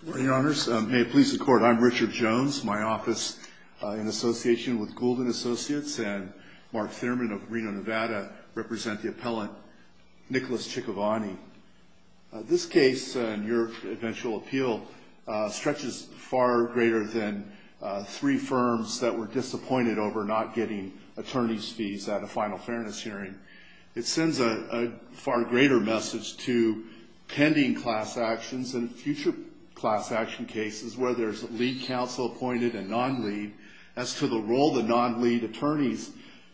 Good morning, Your Honors. May it please the Court, I'm Richard Jones. My office in association with Goulden Associates and Mark Thierman of Reno, Nevada, represent the appellant Nicholas Tchikovani. This case and your eventual appeal stretches far greater than three firms that were disappointed over not getting attorney's fees at a final fairness hearing. It sends a far greater message to pending class actions and future class action cases where there's lead counsel appointed and non-lead as to the role the non-lead attorneys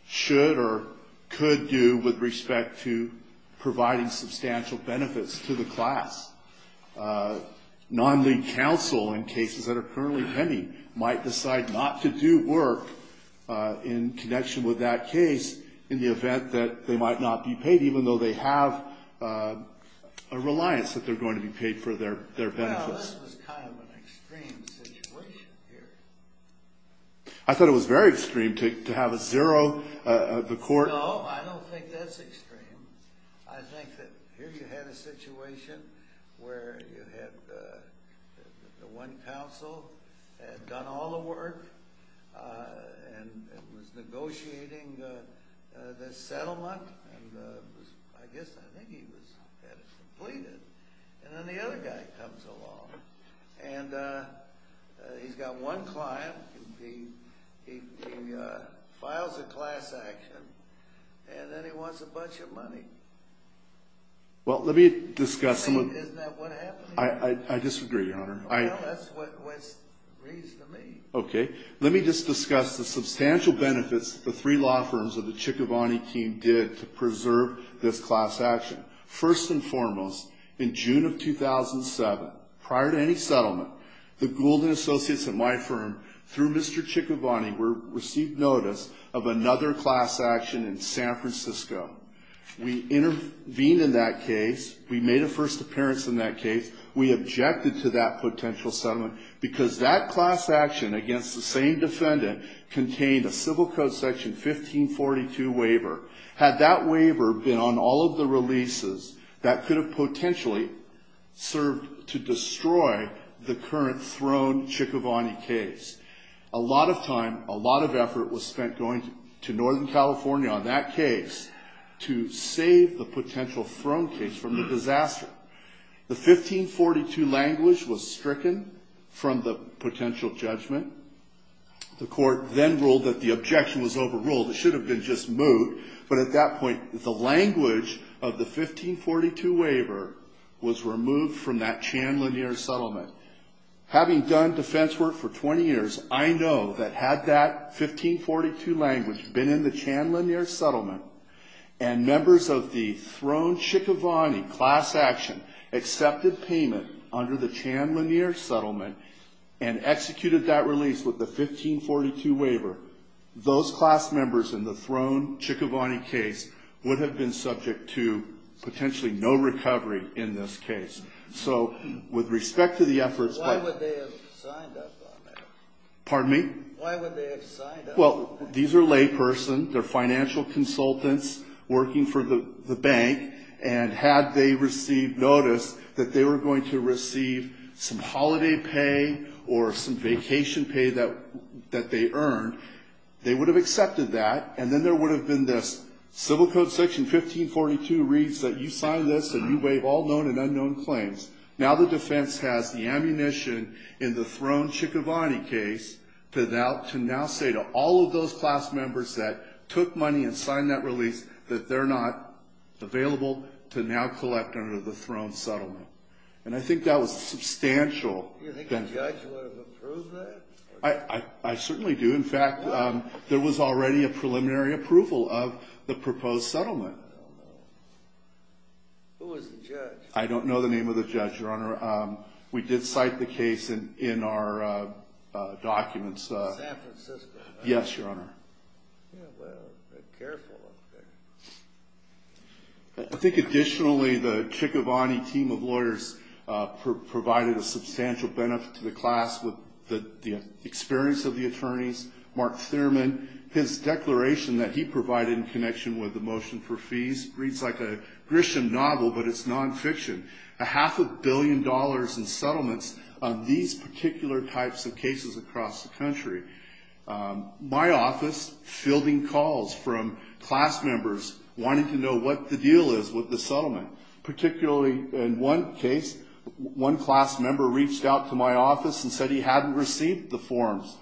should or could do with respect to providing substantial benefits to the class. Non-lead counsel in cases that are currently pending might decide not to do work in connection with that case in the event that they might not be paid, even though they have a reliance that they're going to be paid for their benefits. This was kind of an extreme situation here. I thought it was very extreme to have a zero, the court... And he's got one client. He files a class action, and then he wants a bunch of money. Well, let me discuss some of... Isn't that what happened here? I disagree, Your Honor. Well, that's what it reads to me. Okay. Let me just discuss the substantial benefits the three law firms of the Tchikovani team did to preserve this class action. First and foremost, in June of 2007, prior to any settlement, the Gould & Associates and my firm, through Mr. Tchikovani, received notice of another class action in San Francisco. We intervened in that case. We made a first appearance in that case. We objected to that potential settlement because that class action against the same defendant contained a Civil Code Section 1542 waiver. Had that waiver been on all of the releases, that could have potentially served to destroy the current throne Tchikovani case. A lot of time, a lot of effort was spent going to Northern California on that case to save the potential throne case from the disaster. The 1542 language was stricken from the potential judgment. The court then ruled that the objection was overruled. It should have been just moot, but at that point, the language of the 1542 waiver was removed from that Chan Lanier settlement. Having done defense work for 20 years, I know that had that 1542 language been in the Chan Lanier settlement and members of the throne Tchikovani class action accepted payment under the Chan Lanier settlement and executed that release with the 1542 waiver, those class members in the throne Tchikovani case would have been subject to potentially no recovery in this case. So with respect to the efforts by... Why would they have signed up on that? Pardon me? Why would they have signed up on that? Well, these are laypersons. They're financial consultants working for the bank, and had they received notice that they were going to receive some holiday pay or some vacation pay that they earned, they would have accepted that. And then there would have been this civil code section 1542 reads that you signed this and you waive all known and unknown claims. Now the defense has the ammunition in the throne Tchikovani case to now say to all of those class members that took money and signed that release that they're not available to now collect under the throne settlement. And I think that was substantial. Do you think the judge would have approved that? I certainly do. In fact, there was already a preliminary approval of the proposed settlement. Oh, no. Who was the judge? I don't know the name of the judge, Your Honor. We did cite the case in our documents. San Francisco. Yes, Your Honor. Yeah, well, they're careful up there. I think additionally the Tchikovani team of lawyers provided a substantial benefit to the class with the experience of the attorneys. Mark Thurman, his declaration that he provided in connection with the motion for fees reads like a Grisham novel, but it's nonfiction. A half a billion dollars in settlements on these particular types of cases across the country. My office fielding calls from class members wanting to know what the deal is with the settlement. Particularly in one case, one class member reached out to my office and said he hadn't received the forms.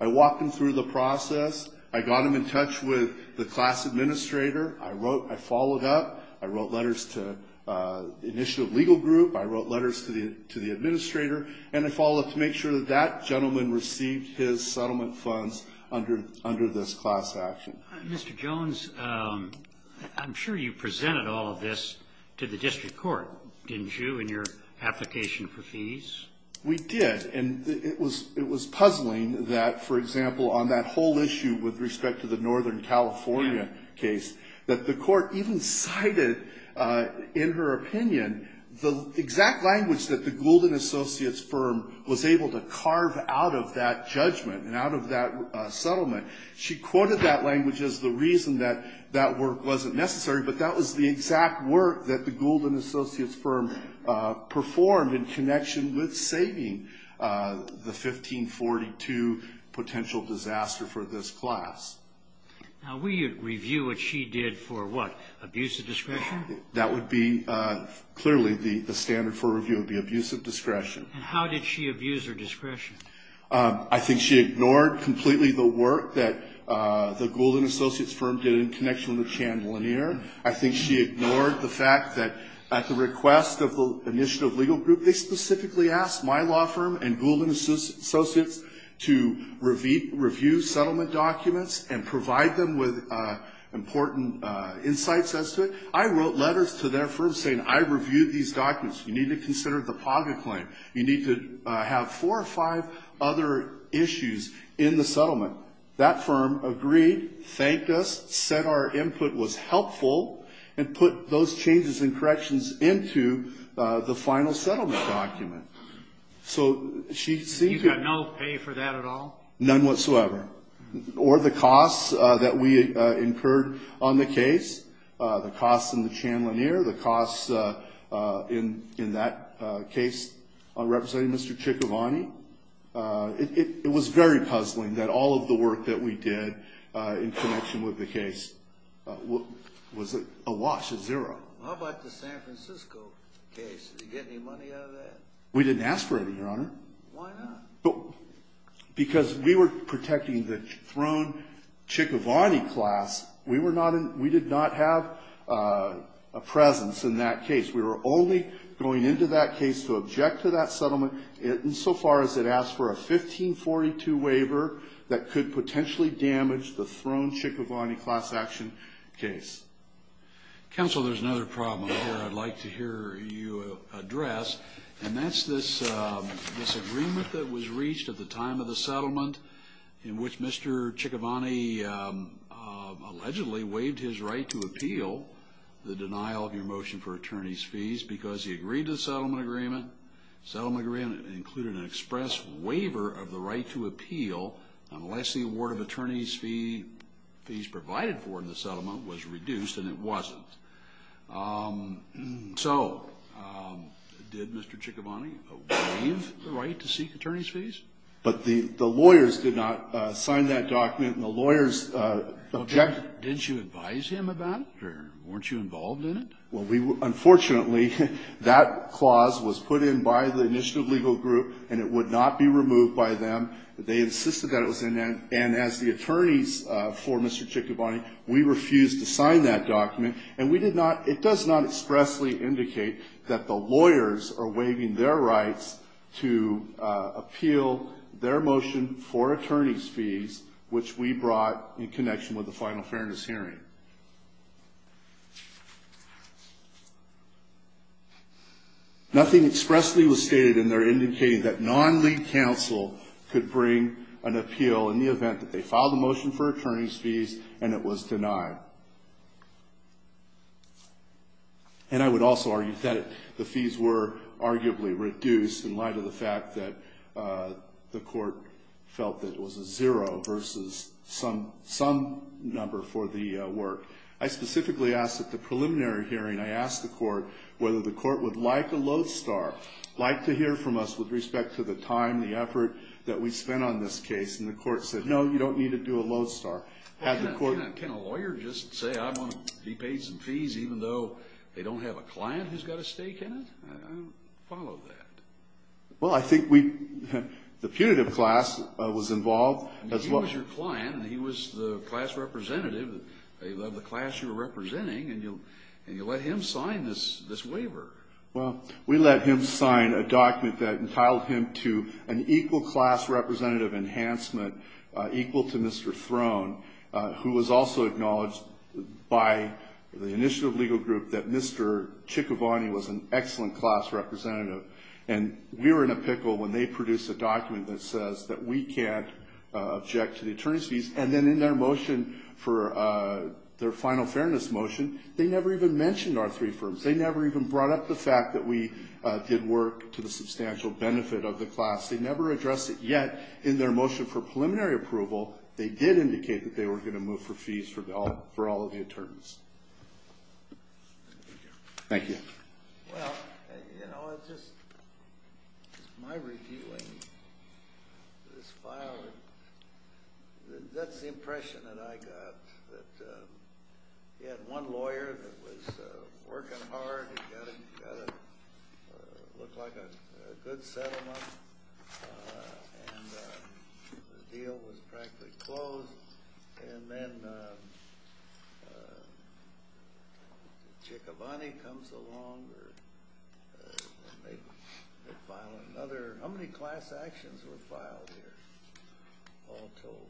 I walked him through the process. I got him in touch with the class administrator. I followed up. I wrote letters to the initiative legal group. I wrote letters to the administrator. And I followed up to make sure that that gentleman received his settlement funds under this class action. Mr. Jones, I'm sure you presented all of this to the district court, didn't you, in your application for fees? We did. And it was puzzling that, for example, on that whole issue with respect to the Northern California case, that the court even cited, in her opinion, the exact language that the Gould & Associates firm was able to carve out of that judgment and out of that settlement. She quoted that language as the reason that that work wasn't necessary, but that was the exact work that the Gould & Associates firm performed in connection with saving the 1542 potential disaster for this class. Now, will you review what she did for what, abuse of discretion? That would be clearly the standard for review would be abuse of discretion. And how did she abuse her discretion? I think she ignored completely the work that the Gould & Associates firm did in connection with Chan Lanier. I think she ignored the fact that at the request of the initiative legal group, they specifically asked my law firm and Gould & Associates to review settlement documents and provide them with important insights as to it. I wrote letters to their firm saying, I reviewed these documents. You need to consider the Paga claim. You need to have four or five other issues in the settlement. That firm agreed, thanked us, said our input was helpful, and put those changes and corrections into the final settlement document. So she seemed to be… She got no pay for that at all? None whatsoever. Or the costs that we incurred on the case, the costs in the Chan Lanier, the costs in that case on representing Mr. Chikovani. It was very puzzling that all of the work that we did in connection with the case was a wash, a zero. How about the San Francisco case? Did you get any money out of that? We didn't ask for any, Your Honor. Why not? Because we were protecting the thrown Chikovani class. We did not have a presence in that case. We were only going into that case to object to that settlement insofar as it asked for a 1542 waiver that could potentially damage the thrown Chikovani class action case. Counsel, there's another problem here I'd like to hear you address, and that's this disagreement that was reached at the time of the settlement in which Mr. Chikovani allegedly waived his right to appeal the denial of your motion for attorney's fees because he agreed to the settlement agreement. The settlement agreement included an express waiver of the right to appeal unless the award of attorney's fees provided for in the settlement was reduced, and it wasn't. So did Mr. Chikovani waive the right to seek attorney's fees? But the lawyers did not sign that document, and the lawyers objected. Didn't you advise him about it, or weren't you involved in it? Well, unfortunately, that clause was put in by the initiative legal group, and it would not be removed by them. They insisted that it was in there, and as the attorneys for Mr. Chikovani, we refused to sign that document, and it does not expressly indicate that the lawyers are waiving their rights to appeal their motion for attorney's fees, which we brought in connection with the final fairness hearing. Nothing expressly was stated in there indicating that non-league counsel could bring an appeal in the event that they filed a motion for attorney's fees and it was denied. And I would also argue that the fees were arguably reduced in light of the fact that the court felt that it was a zero versus some number for the work. I specifically asked at the preliminary hearing, I asked the court whether the court would like a lodestar, like to hear from us with respect to the time, the effort that we spent on this case, and the court said, no, you don't need to do a lodestar. Can a lawyer just say, I want to be paid some fees even though they don't have a client who's got a stake in it? I don't follow that. Well, I think we, the punitive class was involved as well. He was your client, and he was the class representative of the class you were representing, and you let him sign this waiver. Well, we let him sign a document that entitled him to an equal class representative enhancement, equal to Mr. Throne, who was also acknowledged by the initiative legal group that Mr. Ciccovanni was an excellent class representative. And we were in a pickle when they produced a document that says that we can't object to the attorney's fees, and then in their motion for their final fairness motion, they never even mentioned our three firms. They never even brought up the fact that we did work to the substantial benefit of the class. They never addressed it yet in their motion for preliminary approval. They did indicate that they were going to move for fees for all of the attorneys. Thank you. Well, you know, it's just my reviewing this file. That's the impression that I got, that you had one lawyer that was working hard, and got what looked like a good settlement, and the deal was practically closed. And then Ciccovanni comes along and they file another. How many class actions were filed here, all told?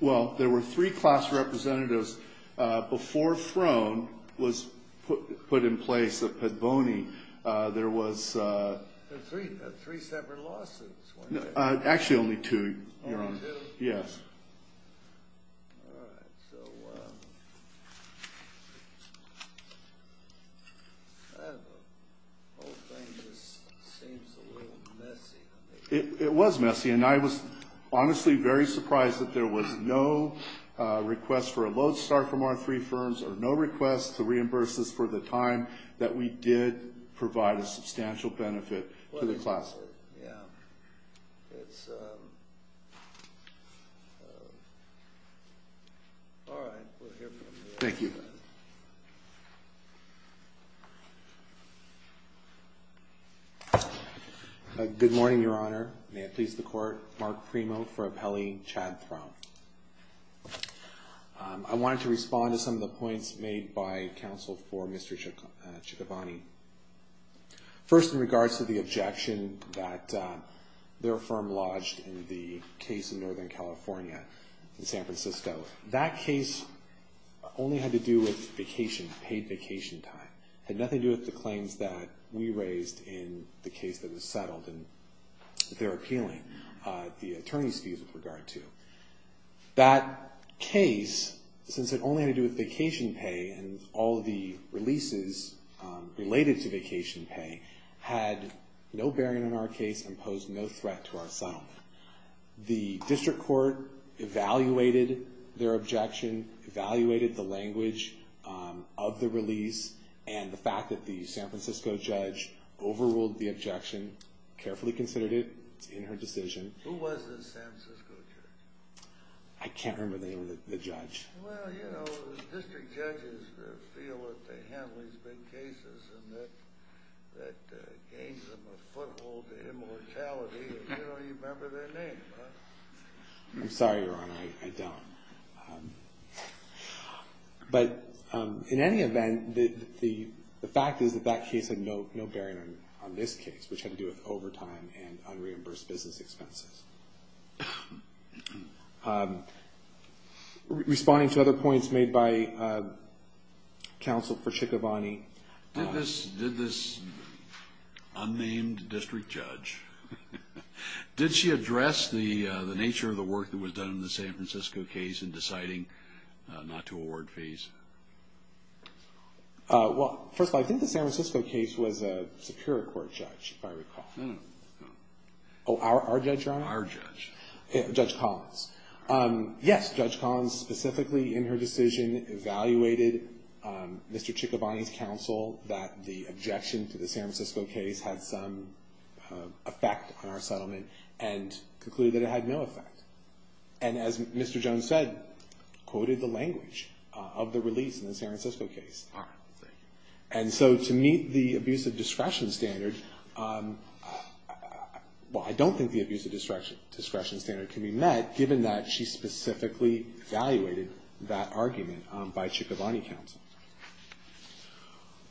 Well, there were three class representatives before Throne was put in place at Petboni. There was three separate lawsuits. Actually, only two, Your Honor. Only two? Yes. All right, so that whole thing just seems a little messy. It was messy, and I was honestly very surprised that there was no request for a load start from our three firms or no request to reimburse us for the time that we did provide a substantial benefit to the class. Yeah, it's all right. We'll hear from you. Thank you. Good morning, Your Honor. May it please the Court. Mark Premo for appellee, Chad Throne. I wanted to respond to some of the points made by counsel for Mr. Ciccovanni. First, in regards to the objection that their firm lodged in the case in Northern California in San Francisco, that case only had to do with vacation, paid vacation time. It had nothing to do with the claims that we raised in the case that was settled, and they're appealing the attorney's fees with regard to. That case, since it only had to do with vacation pay and all of the releases related to vacation pay, had no bearing on our case and posed no threat to our settlement. The district court evaluated their objection, evaluated the language of the release, and the fact that the San Francisco judge overruled the objection, carefully considered it in her decision. Who was the San Francisco judge? I can't remember the name of the judge. Well, you know, district judges feel that they handle these big cases and that gains them a foothold to immortality, and you don't even remember their name, huh? I'm sorry, Your Honor, I don't. But in any event, the fact is that that case had no bearing on this case, which had to do with overtime and unreimbursed business expenses. Responding to other points made by counsel for Ciccovanni. Did this unnamed district judge, did she address the nature of the work that was done in the San Francisco case in deciding not to award fees? Well, first of all, I think the San Francisco case was a superior court judge, if I recall. Oh, our judge, Your Honor? Our judge. Judge Collins. Yes, Judge Collins specifically in her decision evaluated Mr. Ciccovanni's counsel that the objection to the San Francisco case had some effect on our settlement and concluded that it had no effect. And as Mr. Jones said, quoted the language of the release in the San Francisco case. And so to meet the abuse of discretion standard, well, I don't think the abuse of discretion standard can be met, given that she specifically evaluated that argument by Ciccovanni counsel.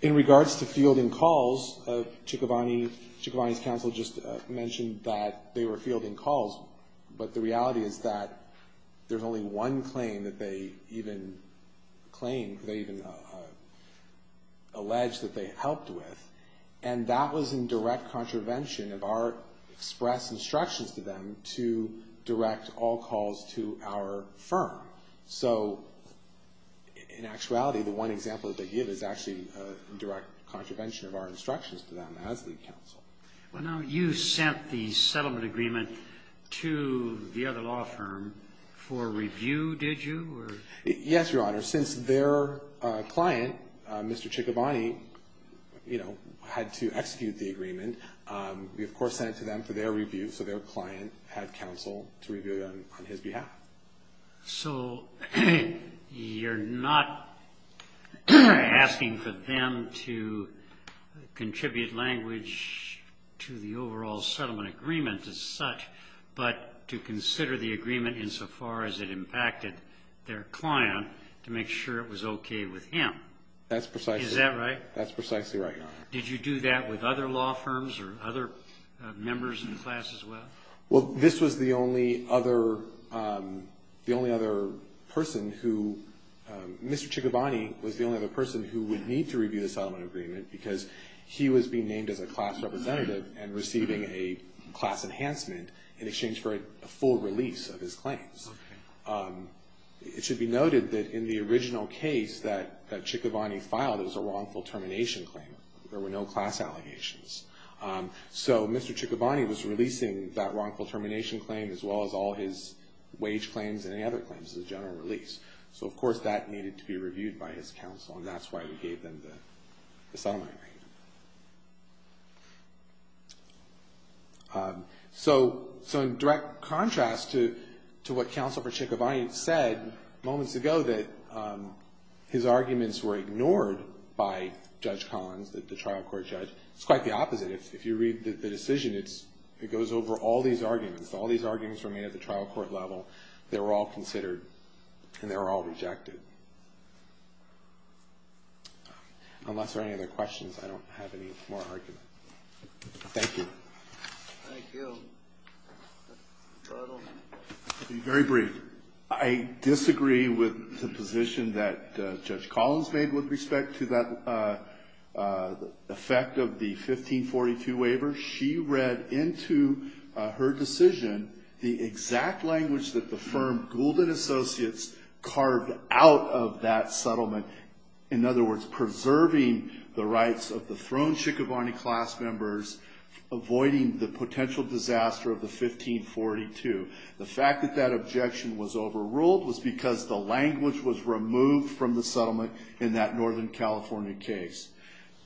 In regards to fielding calls, Ciccovanni's counsel just mentioned that they were fielding calls, but the reality is that there's only one claim that they even claimed, they even alleged that they helped with, and that was in direct contravention of our express instructions to them to direct all calls to our firm. So in actuality, the one example that they give is actually in direct contravention of our instructions to them as the counsel. Well, now you sent the settlement agreement to the other law firm for review, did you? Yes, Your Honor. Since their client, Mr. Ciccovanni, you know, had to execute the agreement, we of course sent it to them for their review so their client had counsel to review it on his behalf. So you're not asking for them to contribute language to the overall settlement agreement as such, but to consider the agreement insofar as it impacted their client to make sure it was okay with him. That's precisely right. Is that right? That's precisely right, Your Honor. Did you do that with other law firms or other members of the class as well? Well, this was the only other person who, Mr. Ciccovanni was the only other person who would need to review the settlement agreement because he was being named as a class representative and receiving a class enhancement in exchange for a full release of his claims. Okay. It should be noted that in the original case that Ciccovanni filed, it was a wrongful termination claim. There were no class allegations. So Mr. Ciccovanni was releasing that wrongful termination claim as well as all his wage claims and any other claims as a general release. So of course that needed to be reviewed by his counsel and that's why we gave them the settlement agreement. So in direct contrast to what Counsel for Ciccovanni said moments ago that his arguments were ignored by Judge Collins, the trial court judge, it's quite the opposite. If you read the decision, it goes over all these arguments. All these arguments were made at the trial court level. They were all considered and they were all rejected. Unless there are any other questions, I don't have any more argument. Thank you. Thank you. Very brief. I disagree with the position that Judge Collins made with respect to that effect of the 1542 waiver. She read into her decision the exact language that the firm, Gould & Associates, carved out of that settlement. In other words, preserving the rights of the thrown Ciccovanni class members, avoiding the potential disaster of the 1542. The fact that that objection was overruled was because the language was removed from the settlement in that Northern California case.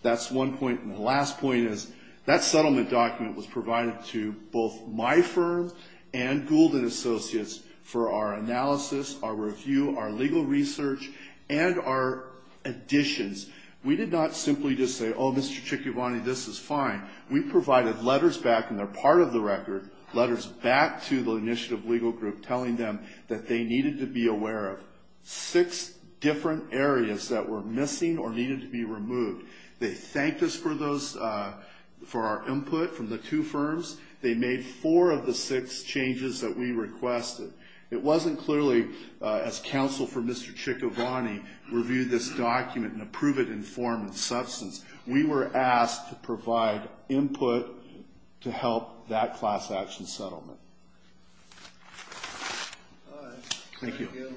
That's one point. And the last point is that settlement document was provided to both my firm and Gould & Associates for our analysis, our review, our legal research, and our additions. We did not simply just say, oh, Mr. Ciccovanni, this is fine. We provided letters back, and they're part of the record, letters back to the initiative legal group telling them that they needed to be aware of six different areas that were missing or needed to be removed. They thanked us for our input from the two firms. They made four of the six changes that we requested. It wasn't clearly as counsel for Mr. Ciccovanni reviewed this document and approved it in form and substance. We were asked to provide input to help that class action settlement. Thank you.